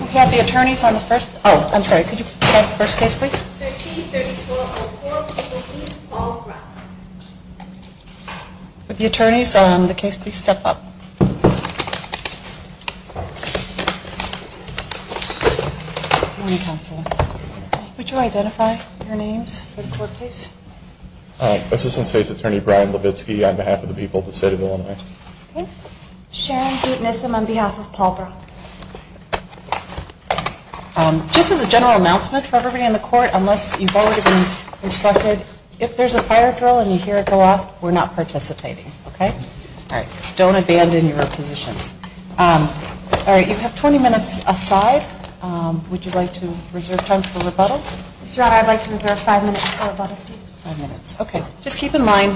We have the attorneys on the first, oh, I'm sorry, could you go to the first case, please? Would the attorneys on the case please step up? Good morning, Counselor. Would you identify your names for the court, please? Assistant State's Attorney Brian Levitsky on behalf of the people of the City of Illinois. Sharon Butenissim on behalf of Paulborough. Just as a general announcement for everybody in the court, unless you've already been instructed, if there's a fire drill and you hear it go off, we're not participating, okay? Don't abandon your positions. All right, you have 20 minutes aside. Would you like to reserve time for rebuttal? I'd like to reserve five minutes for rebuttal, please. Five minutes, okay. Just keep in mind,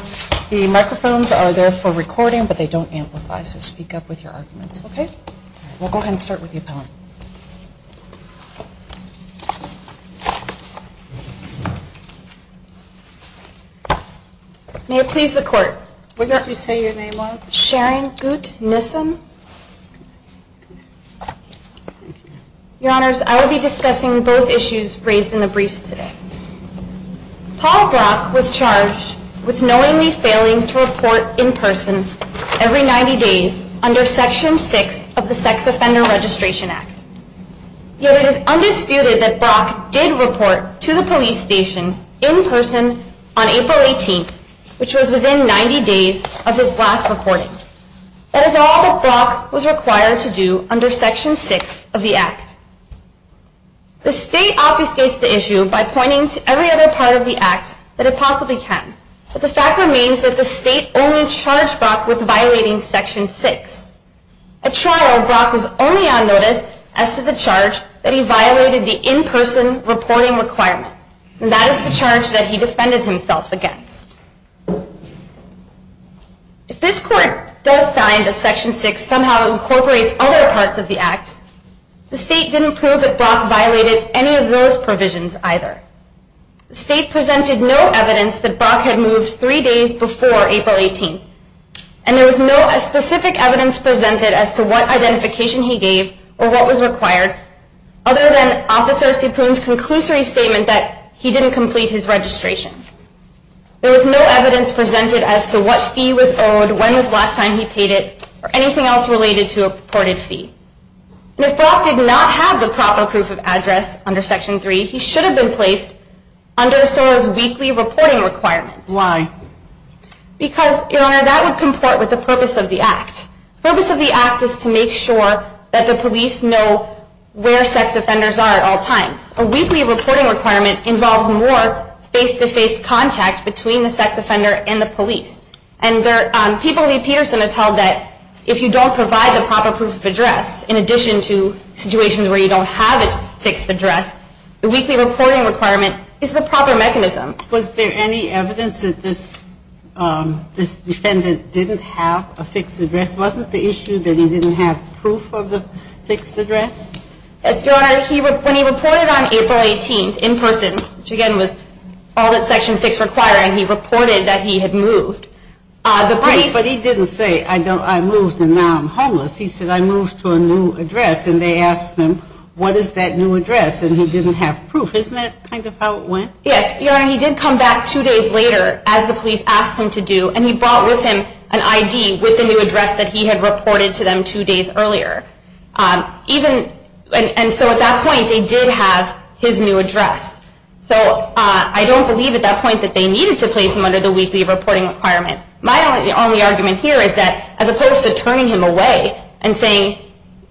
the microphones are there for recording, but they don't amplify, so speak up with your arguments, okay? We'll go ahead and start with the appellant. May it please the court? Would you like to say your name was? Sharon Butenissim. Your Honors, I will be discussing both issues raised in the briefs today. Paul Brock was charged with knowingly failing to report in person every 90 days under Section 6 of the Sex Offender Registration Act. Yet it is undisputed that Brock did report to the police station in person on April 18th, which was within 90 days of his last reporting. That is all that Brock was required to do under Section 6 of the Act. The State obfuscates the issue by pointing to every other part of the Act that it possibly can, but the fact remains that the State only charged Brock with violating Section 6. At trial, Brock was only on notice as to the charge that he violated the in-person reporting requirement, and that is the charge that he defended himself against. If this Court does find that Section 6 somehow incorporates other parts of the Act, the State didn't prove that Brock violated any of those provisions either. The State presented no evidence that Brock had moved three days before April 18th, and there was no specific evidence presented as to what identification he gave or what was required, other than Officer Ciproon's conclusory statement that he didn't complete his registration. There was no evidence presented as to what fee was owed, when was the last time he paid it, or anything else related to a purported fee. If Brock did not have the proper proof of address under Section 3, he should have been placed under SORA's weekly reporting requirement. Why? Because, Your Honor, that would comport with the purpose of the Act. The purpose of the Act is to make sure that the police know where sex offenders are at all times. A weekly reporting requirement involves more face-to-face contact between the sex offender and the police. And People v. Peterson has held that if you don't provide the proper proof of address, in addition to situations where you don't have a fixed address, the weekly reporting requirement is the proper mechanism. Was there any evidence that this defendant didn't have a fixed address? Wasn't the issue that he didn't have proof of the fixed address? Yes, Your Honor. When he reported on April 18th in person, which again was all that Section 6 required, he reported that he had moved. But he didn't say, I moved and now I'm homeless. He said, I moved to a new address. And they asked him, what is that new address? And he didn't have proof. Isn't that kind of how it went? Yes, Your Honor. He did come back two days later, as the police asked him to do, and he brought with him an ID with the new address that he had reported to them two days earlier. And so at that point, they did have his new address. So I don't believe at that point that they needed to place him under the weekly reporting requirement. My only argument here is that as opposed to turning him away and saying,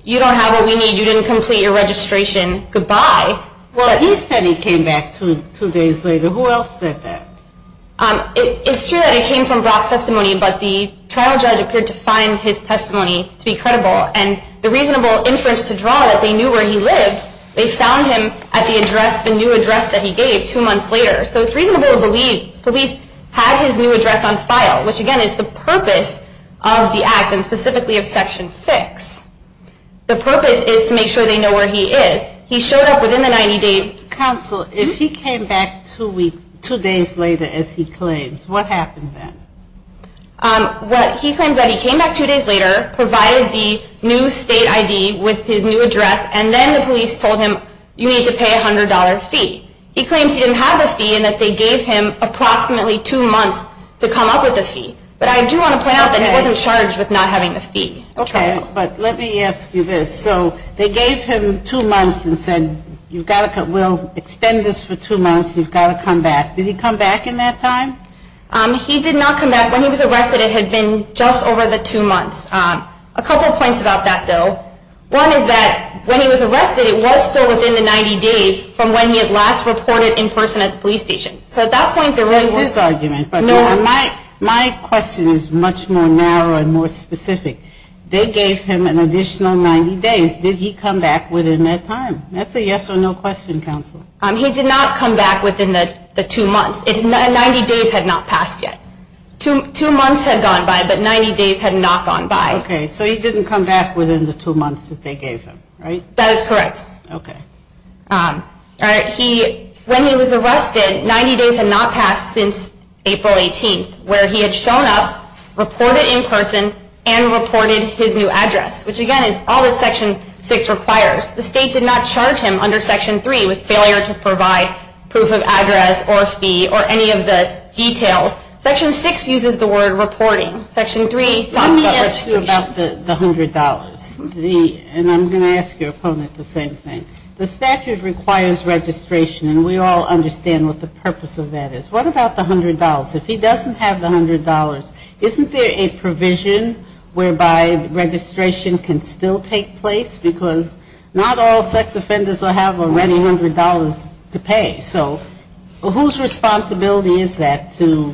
you don't have what we need, you didn't complete your registration, goodbye. Well, he said he came back two days later. Who else said that? It's true that it came from Brock's testimony, but the trial judge appeared to find his testimony to be credible. And the reasonable inference to draw that they knew where he lived, they found him at the address, the new address that he gave two months later. So it's reasonable to believe police had his new address on file, which, again, is the purpose of the act, and specifically of Section 6. The purpose is to make sure they know where he is. He showed up within the 90 days. Counsel, if he came back two days later, as he claims, what happened then? He claims that he came back two days later, provided the new state ID with his new address, and then the police told him, you need to pay a $100 fee. He claims he didn't have the fee and that they gave him approximately two months to come up with the fee. But I do want to point out that he wasn't charged with not having the fee. But let me ask you this. So they gave him two months and said, we'll extend this for two months, you've got to come back. Did he come back in that time? He did not come back. When he was arrested, it had been just over the two months. A couple points about that, though. One is that when he was arrested, it was still within the 90 days from when he had last reported in person at the police station. So at that point, there really was no ‑‑ That's his argument. My question is much more narrow and more specific. They gave him an additional 90 days. Did he come back within that time? That's a yes or no question, Counsel. He did not come back within the two months. Ninety days had not passed yet. Two months had gone by, but 90 days had not gone by. Okay. So he didn't come back within the two months that they gave him, right? That is correct. Okay. All right. When he was arrested, 90 days had not passed since April 18th, where he had shown up, reported in person, and reported his new address, which, again, is all that Section 6 requires. The state did not charge him under Section 3 with failure to provide proof of address or fee or any of the details. Section 6 uses the word reporting. Let me ask you about the $100. And I'm going to ask your opponent the same thing. The statute requires registration, and we all understand what the purpose of that is. What about the $100? If he doesn't have the $100, isn't there a provision whereby registration can still take place? Because not all sex offenders will have already $100 to pay. Okay. So whose responsibility is that to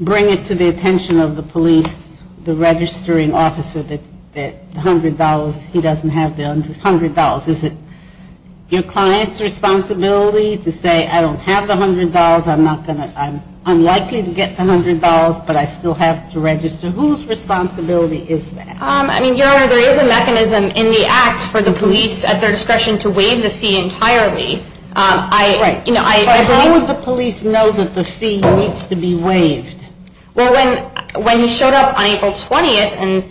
bring it to the attention of the police, the registering officer, that $100, he doesn't have the $100? Is it your client's responsibility to say, I don't have the $100, I'm unlikely to get the $100, but I still have to register? Whose responsibility is that? I mean, you're aware there is a mechanism in the act for the police at their discretion to waive the fee entirely. Right. But how would the police know that the fee needs to be waived? Well, when he showed up on April 20th and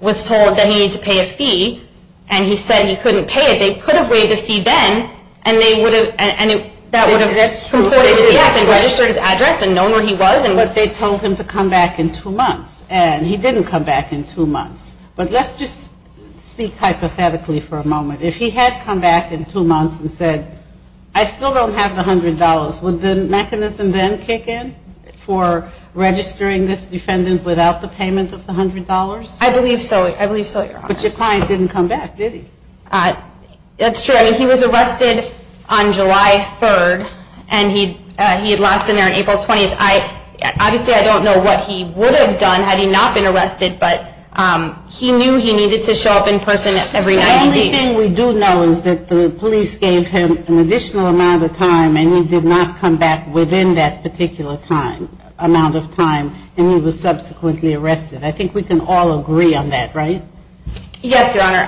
was told that he needed to pay a fee, and he said he couldn't pay it, they could have waived the fee then, and they would have, and that would have completely taken his address and known where he was. But they told him to come back in two months, and he didn't come back in two months. But let's just speak hypothetically for a moment. If he had come back in two months and said, I still don't have the $100, would the mechanism then kick in for registering this defendant without the payment of the $100? I believe so. I believe so, Your Honor. But your client didn't come back, did he? That's true. I mean, he was arrested on July 3rd, and he had lost an ear on April 20th. Obviously, I don't know what he would have done had he not been arrested, but he knew he needed to show up in person every night. The only thing we do know is that the police gave him an additional amount of time, and he did not come back within that particular time, amount of time, and he was subsequently arrested. I think we can all agree on that, right? Yes, Your Honor.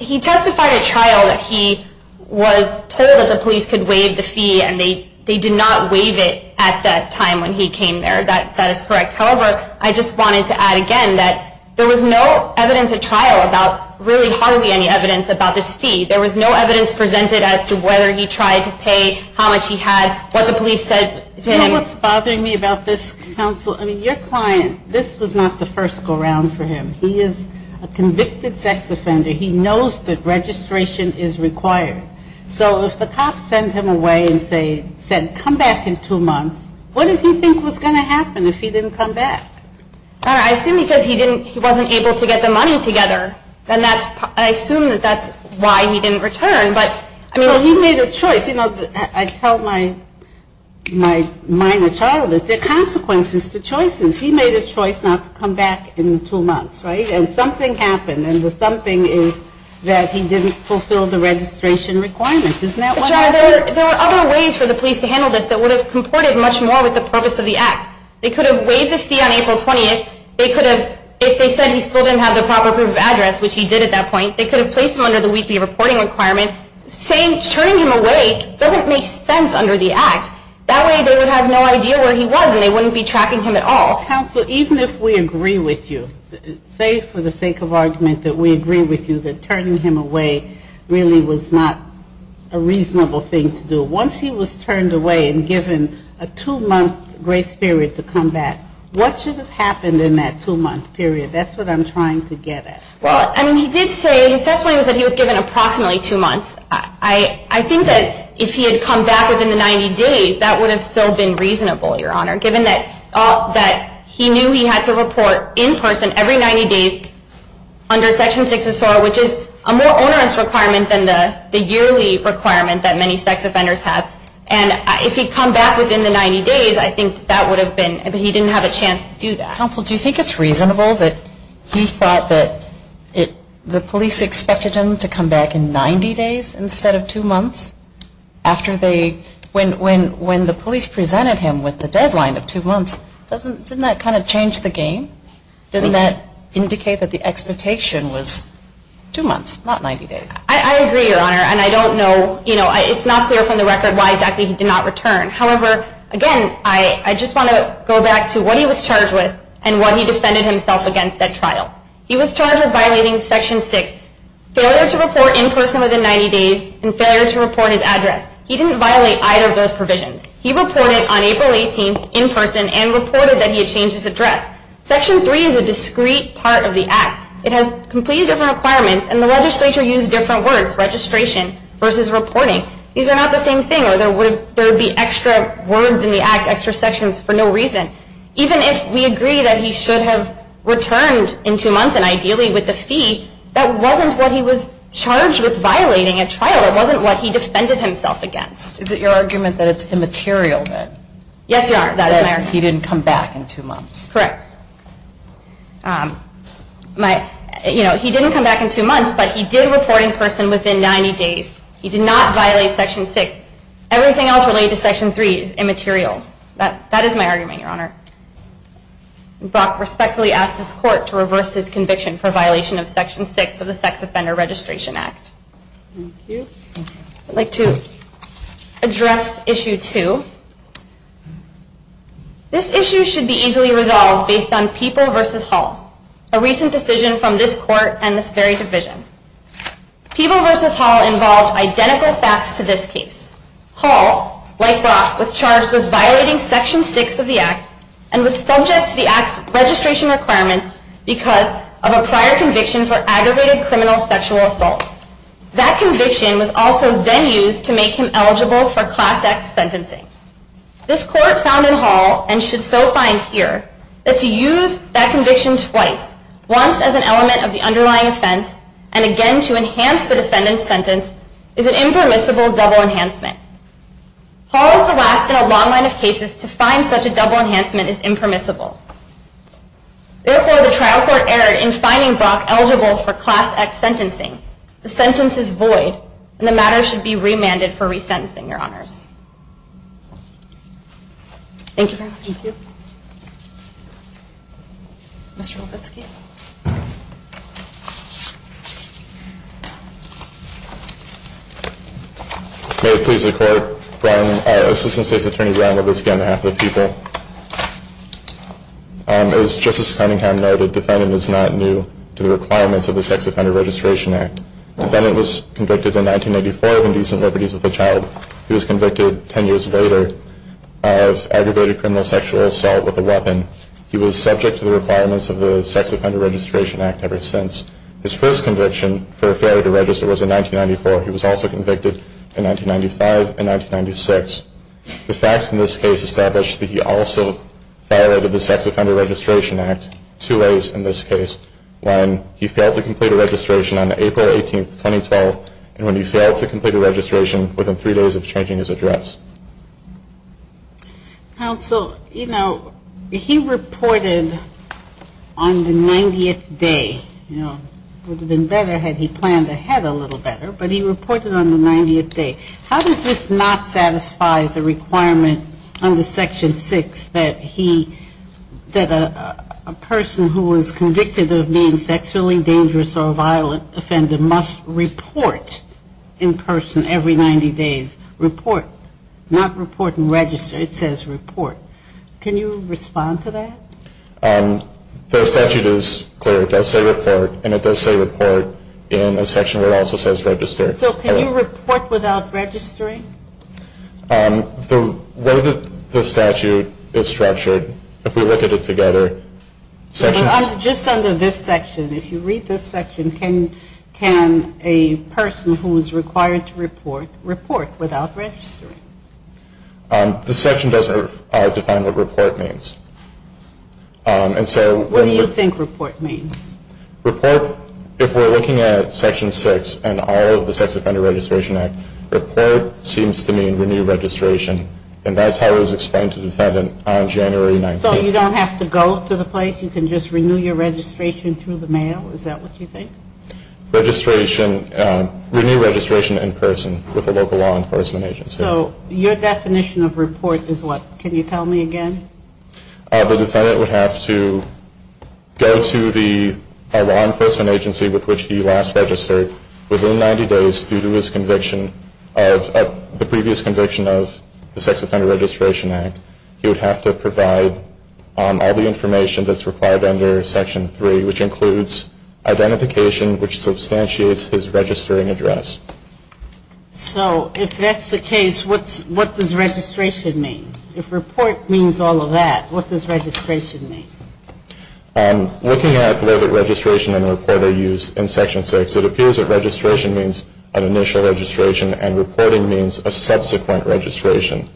He testified at trial that he was told that the police could waive the fee, and they did not waive it at that time when he came there. That is correct. However, I just wanted to add again that there was no evidence at trial about really hardly any evidence about this fee. There was no evidence presented as to whether he tried to pay, how much he had, what the police said. Do you know what's bothering me about this, counsel? I mean, your client, this was not the first go-round for him. He is a convicted sex offender. He knows that registration is required. So if the cops sent him away and said, come back in two months, what did he think was going to happen if he didn't come back? I assume because he wasn't able to get the money together, I assume that's why he didn't return. He made a choice. I tell my minor child this. There are consequences to choices. He made a choice not to come back in two months, right? And something happened, and the something is that he didn't fulfill the registration requirements. Isn't that what happened? But, John, there were other ways for the police to handle this that would have comported much more with the purpose of the act. They could have waived the fee on April 20th. They could have, if they said he still didn't have the proper proof of address, which he did at that point, they could have placed him under the weekly reporting requirement. Turning him away doesn't make sense under the act. That way they would have no idea where he was, and they wouldn't be tracking him at all. Counsel, even if we agree with you, say for the sake of argument that we agree with you, that turning him away really was not a reasonable thing to do. Once he was turned away and given a two-month grace period to come back, what should have happened in that two-month period? That's what I'm trying to get at. Well, I mean, he did say, his testimony was that he was given approximately two months. I think that if he had come back within the 90 days, that would have still been reasonable, Your Honor, given that he knew he had to report in person every 90 days under Section 6 of SOAR, which is a more onerous requirement than the yearly requirement that many sex offenders have. And if he had come back within the 90 days, I think that would have been, he didn't have a chance to do that. Counsel, do you think it's reasonable that he thought that the police expected him to come back in 90 days instead of two months after they, when the police presented him with the deadline of two months, didn't that kind of change the game? Didn't that indicate that the expectation was two months, not 90 days? I agree, Your Honor, and I don't know, you know, it's not clear from the record why exactly he did not return. However, again, I just want to go back to what he was charged with and what he defended himself against at trial. He was charged with violating Section 6. Failure to report in person within 90 days and failure to report his address. He didn't violate either of those provisions. He reported on April 18 in person and reported that he had changed his address. Section 3 is a discrete part of the Act. It has completely different requirements, and the legislature used different words, registration versus reporting. These are not the same thing, or there would be extra words in the Act, extra sections, for no reason. Even if we agree that he should have returned in two months, and ideally with the fee, that wasn't what he was charged with violating at trial. It wasn't what he defended himself against. Is it your argument that it's immaterial that he didn't come back in two months? Correct. You know, he didn't come back in two months, but he did report in person within 90 days. He did not violate Section 6. Everything else related to Section 3 is immaterial. That is my argument, Your Honor. Brock respectfully asks this Court to reverse his conviction for violation of Section 6 of the Sex Offender Registration Act. Thank you. I'd like to address Issue 2. This issue should be easily resolved based on People v. Hall, a recent decision from this Court and this very division. People v. Hall involved identical facts to this case. Hall, like Brock, was charged with violating Section 6 of the Act and was subject to the Act's registration requirements because of a prior conviction for aggravated criminal sexual assault. That conviction was also then used to make him eligible for Class X sentencing. This Court found in Hall, and should so find here, that to use that conviction twice, once as an element of the underlying offense, and again to enhance the defendant's sentence, is an impermissible double enhancement. Hall is the last in a long line of cases to find such a double enhancement is impermissible. Therefore, the trial court erred in finding Brock eligible for Class X sentencing. The sentence is void, and the matter should be remanded for resentencing, Your Honors. Thank you very much. Thank you. Mr. Levitsky. May it please the Court, Assistant State's Attorney Brian Levitsky on behalf of the People. As Justice Cunningham noted, the defendant is not new to the requirements of the Sex Offender Registration Act. The defendant was convicted in 1994 of indecent liberties with a child. He was convicted 10 years later of aggravated criminal sexual assault with a weapon. He was subject to the requirements of the Sex Offender Registration Act ever since. His first conviction for failure to register was in 1994. He was also convicted in 1995 and 1996. The facts in this case establish that he also violated the Sex Offender Registration Act two ways in this case. One, he failed to complete a registration on April 18, 2012, and when he failed to complete a registration, within three days of changing his address. Counsel, you know, he reported on the 90th day. You know, it would have been better had he planned ahead a little better, but he reported on the 90th day. How does this not satisfy the requirement under Section 6 that he, that a person who was convicted of being sexually dangerous or a violent offender must report in person every 90 days? Report, not report and register. It says report. Can you respond to that? The statute is clear. It does say report, and it does say report in a section where it also says register. So can you report without registering? The way that the statute is structured, if we look at it together, sections Just under this section, if you read this section, can a person who is required to report, report without registering? This section doesn't define what report means. What do you think report means? Report, if we're looking at Section 6 and all of the Sex Offender Registration Act, report seems to mean renew registration, and that's how it was explained to the defendant on January 19th. So you don't have to go to the place? You can just renew your registration through the mail? Is that what you think? Registration, renew registration in person with a local law enforcement agency. So your definition of report is what? Can you tell me again? The defendant would have to go to the law enforcement agency with which he last registered within 90 days due to his conviction of the previous conviction of the Sex Offender Registration Act. He would have to provide all the information that's required under Section 3, which includes identification which substantiates his registering address. So if that's the case, what does registration mean? If report means all of that, what does registration mean? Looking at the way that registration and report are used in Section 6, it appears that registration means an initial registration and reporting means a subsequent registration.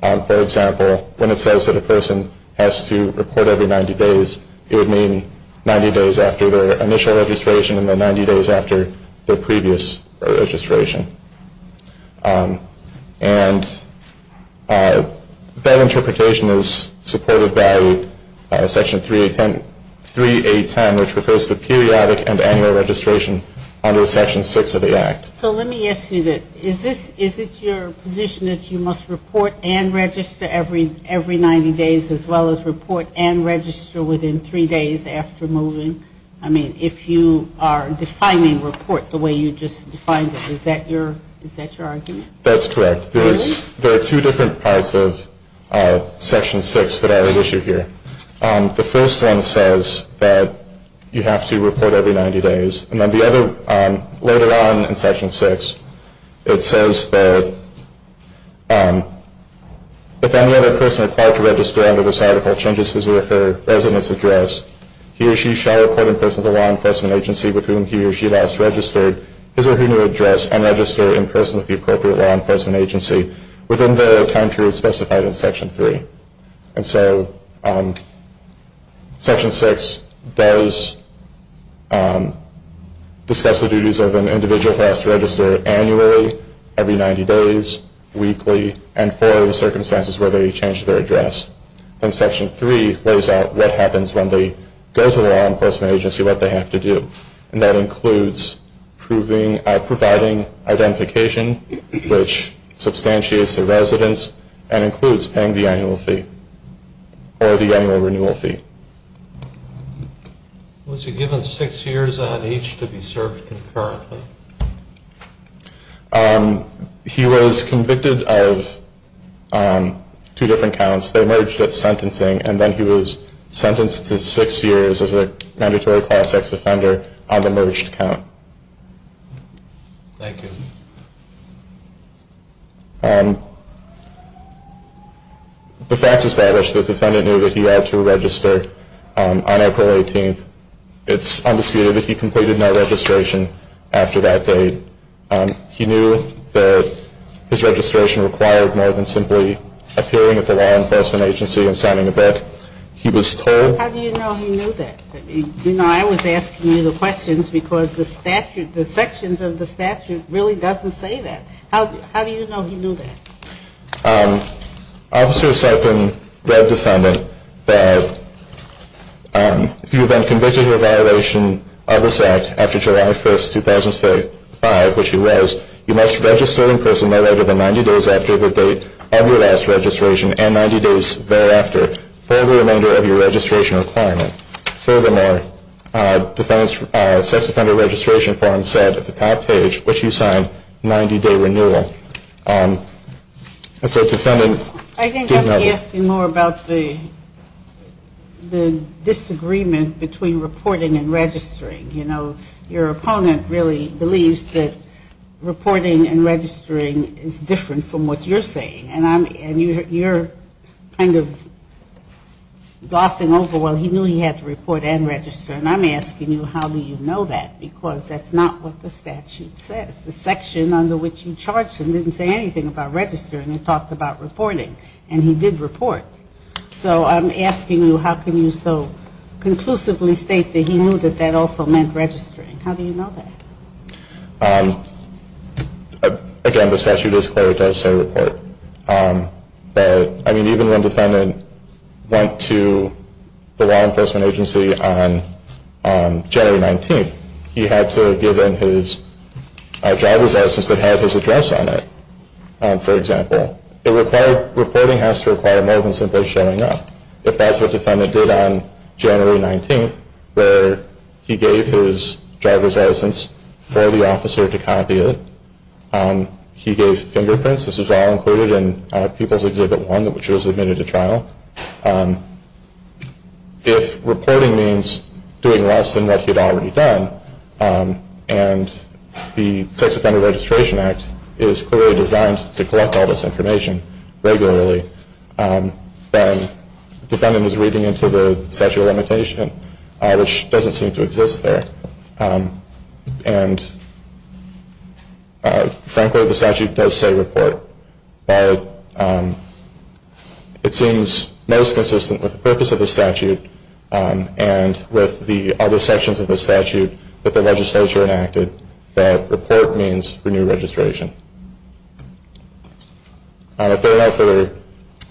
For example, when it says that a person has to report every 90 days, it would mean 90 days after their initial registration and then 90 days after their previous registration. And that interpretation is supported by Section 3.8.10, which refers to periodic and annual registration under Section 6 of the Act. So let me ask you this. Is it your position that you must report and register every 90 days as well as report and register within three days after moving? I mean, if you are defining report the way you just defined it, is that your argument? That's correct. There are two different parts of Section 6 that are at issue here. The first one says that you have to report every 90 days. And then the other, later on in Section 6, it says that if any other person required to register under this article changes his or her resident's address, he or she shall report in person to the law enforcement agency with whom he or she last registered his or her new address and register in person with the appropriate law enforcement agency within the time period specified in Section 3. And so Section 6 does discuss the duties of an individual who has to register annually, every 90 days, weekly, and for the circumstances where they change their address. And Section 3 lays out what happens when they go to the law enforcement agency, what they have to do. And that includes providing identification, which substantiates their residence, and includes paying the annual fee or the annual renewal fee. Was he given six years on each to be served concurrently? He was convicted of two different counts. They merged at sentencing, and then he was sentenced to six years as a mandatory Class X offender on the merged count. Thank you. The facts establish that the defendant knew that he had to register on April 18th. It's undisputed that he completed no registration after that date. He knew that his registration required more than simply appearing at the law enforcement agency and signing a book. He was told. How do you know he knew that? You know, I was asking you the questions because the statute, the sections of the statute really doesn't say that. How do you know he knew that? Officer Sarpin read the defendant that if you have been convicted of a violation of this act after July 1st, 2005, which he was, you must register in person no later than 90 days after the date of your last registration and 90 days thereafter for the remainder of your registration requirement. Furthermore, the sex offender registration form said at the top page, which you signed, 90-day renewal. So the defendant did not. I think I'm asking more about the disagreement between reporting and registering. You know, your opponent really believes that reporting and registering is different from what you're saying. And you're kind of glossing over, well, he knew he had to report and register. And I'm asking you, how do you know that? Because that's not what the statute says. The section under which you charged him didn't say anything about registering. It talked about reporting. And he did report. So I'm asking you, how can you so conclusively state that he knew that that also meant registering? How do you know that? Again, the statute is clear. It does say report. But, I mean, even when the defendant went to the law enforcement agency on January 19th, he had to give in his driver's license that had his address on it, for example. Reporting has to require more than simply showing up. If that's what the defendant did on January 19th, where he gave his driver's license for the officer to copy it, he gave fingerprints, this was all included in People's Exhibit 1, which was admitted to trial. If reporting means doing less than what he had already done, and the Sex Offender Registration Act is clearly designed to collect all this information regularly, then the defendant was reading into the statute of limitation, which doesn't seem to exist there. And, frankly, the statute does say report. But it seems most consistent with the purpose of the statute and with the other sections of the statute that the legislature enacted that report means renew registration. If there are no further... There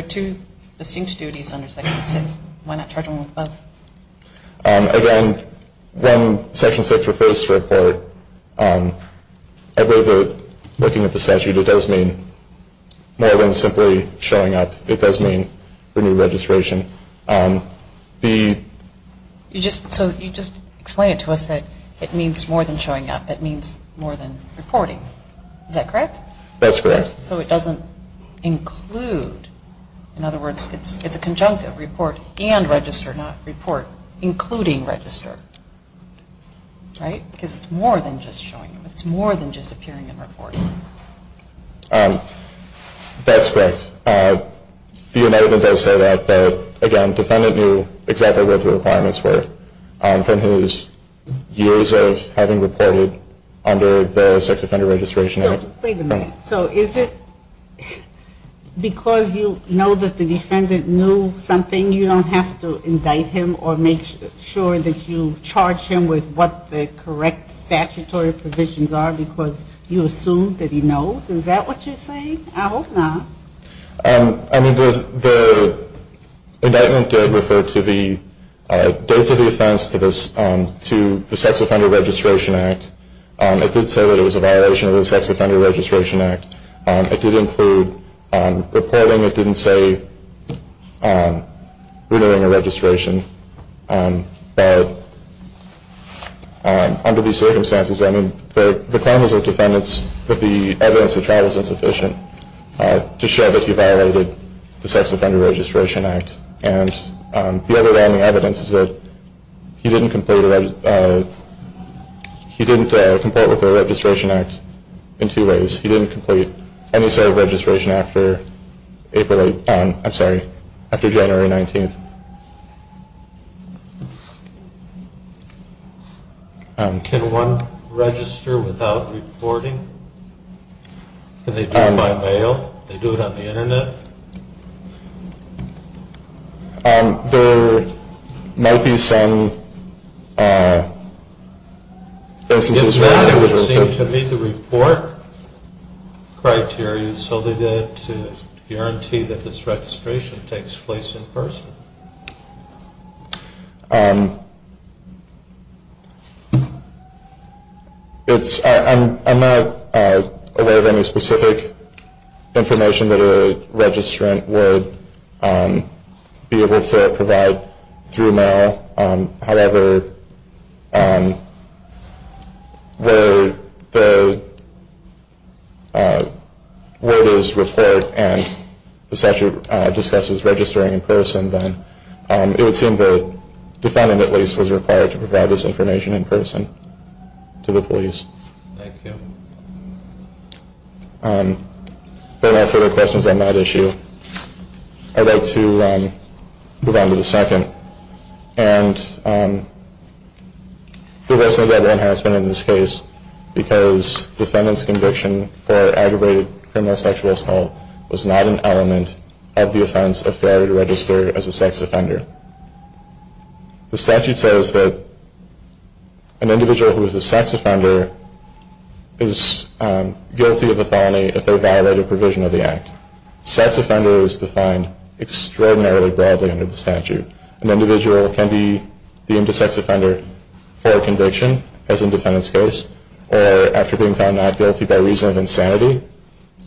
are two distinct duties under Section 6. Why not charge them with both? Again, when Section 6 refers to report, looking at the statute, it does mean more than simply showing up. It does mean renew registration. So you just explained it to us that it means more than showing up. It means more than reporting. Is that correct? That's correct. So it doesn't include... In other words, it's a conjunctive report and register, not report including register, right? Because it's more than just showing up. It's more than just appearing and reporting. That's correct. The amendment does say that. But, again, defendant knew exactly what the requirements were from his years of having reported under the Sex Offender Registration Act. Wait a minute. So is it because you know that the defendant knew something, you don't have to indict him or make sure that you charge him with what the correct statutory provisions are because you assume that he knows? Is that what you're saying? I hope not. I mean, the indictment did refer to the dates of the offense to the Sex Offender Registration Act. It did say that it was a violation of the Sex Offender Registration Act. It did include reporting. It didn't say renewing a registration. But under these circumstances, I mean, the claim is of defendants that the evidence of trial is insufficient to show that he violated the Sex Offender Registration Act. And the other way on the evidence is that he didn't complete a registration act in two ways. He didn't complete any sort of registration after April 8th. I'm sorry, after January 19th. Can one register without reporting? Can they do it by mail? Can they do it on the Internet? There might be some instances where that would work. It would seem to me the report criteria is solely there to guarantee that this registration takes place in person. I'm not aware of any specific information that a registrant would be able to provide through mail. However, where it is report and the statute discusses registering in person, then it would seem the defendant at least was required to provide this information in person to the police. Thank you. If there are no further questions on that issue, I'd like to move on to the second. And there wasn't a federal enhancement in this case because defendant's conviction for aggravated criminal sexual assault was not an element of the offense of failure to register as a sex offender. The statute says that an individual who is a sex offender is guilty of a felony if they violate a provision of the act. Sex offender is defined extraordinarily broadly under the statute. An individual can be deemed a sex offender for a conviction, as in defendant's case, or after being found not guilty by reason of insanity,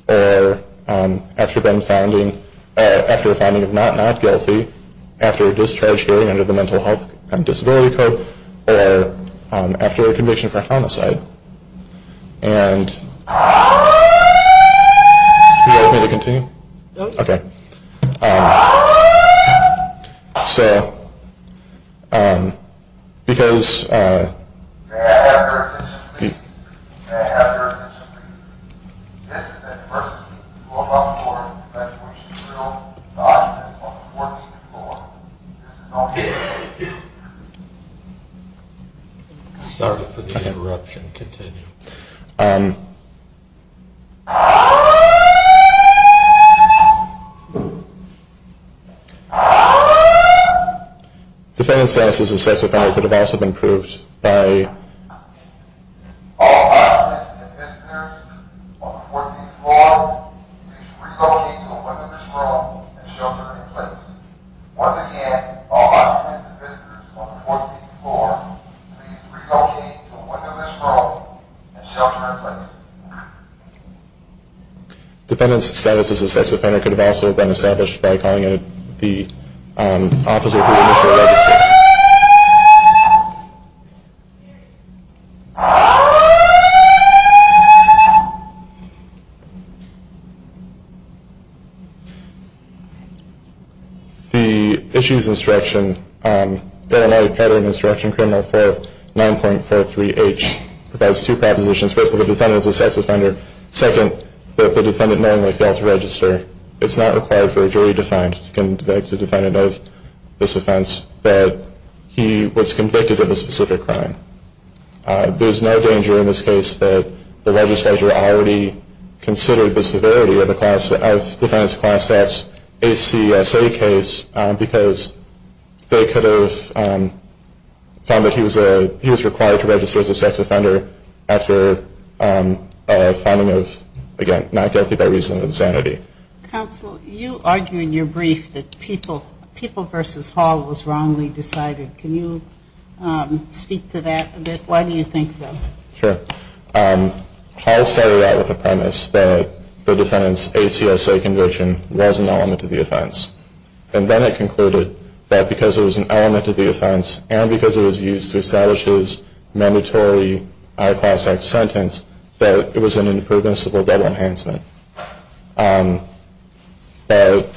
or after a finding of not not guilty, after a discharge hearing under the Mental Health and Disability Code, or after a conviction for homicide. And... Do you want me to continue? No. Okay. So... Because... May I have your attention, please? This is an emergency. You are about to board. That's where you should go. The object is on the fourth floor. This is an emergency. Thank you. Sorry for the interruption. Continue. Um... Defendant's status as a sex offender could have also been proved by... Defendant's status as a sex offender could have also been established by calling in the officer who initiated... Here. The Issues Instruction, Paranoid Pattern Instruction, Criminal 4th, 9.43h, provides two propositions. First, that the defendant is a sex offender. Second, that the defendant knowingly failed to register. It's not required for a jury defendant to convict a defendant of this offense that he was convicted of a specific crime. There's no danger in this case that the registrar already considered the severity of the class... of defendant's class status ACSA case because they could have found that he was a... he was required to register as a sex offender after a finding of, again, not guilty by reason of insanity. Counsel, you argue in your brief that People v. Hall was wrongly decided. Can you speak to that a bit? Why do you think so? Sure. Hall started out with a premise that the defendant's ACSA conviction was an element to the offense. And then it concluded that because it was an element to the offense and because it was used to establish his mandatory... that it was an impermissible double enhancement. But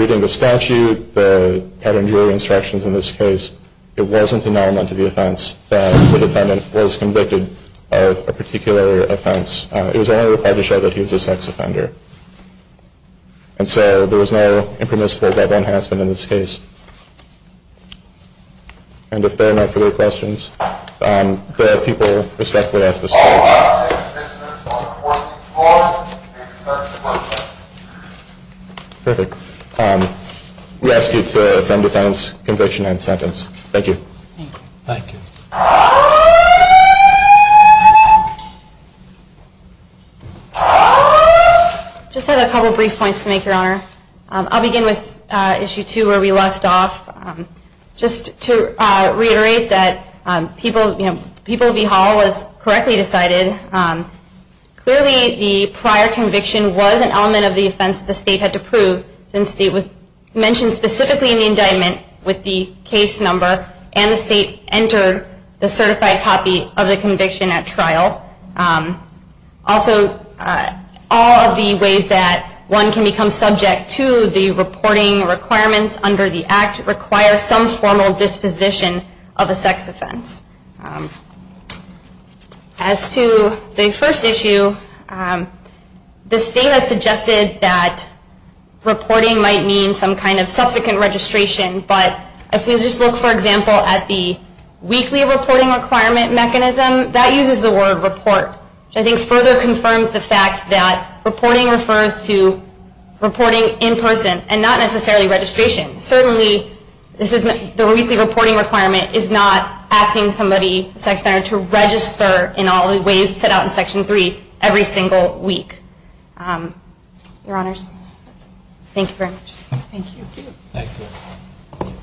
reading the statute, the pattern jury instructions in this case, it wasn't an element to the offense that the defendant... was convicted of a particular offense. It was only required to show that he was a sex offender. And so there was no impermissible double enhancement in this case. And if there are no further questions, there are people respectfully asked to speak. Perfect. We ask you to affirm the defendant's conviction and sentence. Thank you. Thank you. Thank you. Just have a couple brief points to make, Your Honor. I'll begin with Issue 2 where we left off. Just to reiterate that People v. Hall was correctly decided. Clearly the prior conviction was an element of the offense that the state had to prove since it was mentioned specifically... in the indictment with the case number and the state entered the certified copy of the conviction at trial. Also, all of the ways that one can become subject to the reporting requirements under the Act... require some formal disposition of a sex offense. As to the first issue, the state has suggested that reporting might mean some kind of subsequent registration. But if we just look, for example, at the weekly reporting requirement mechanism, that uses the word report. Which I think further confirms the fact that reporting refers to reporting in person and not necessarily registration. Certainly the weekly reporting requirement is not asking somebody, a sex offender, to register in all the ways set out in Section 3 every single week. Thank you very much. Thank you. Thank you.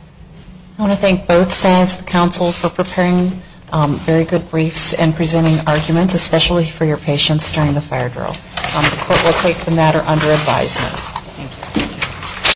I want to thank both sides of the council for preparing very good briefs and presenting arguments, especially for your patience during the fire drill. The court will take the matter under advisement. Thank you.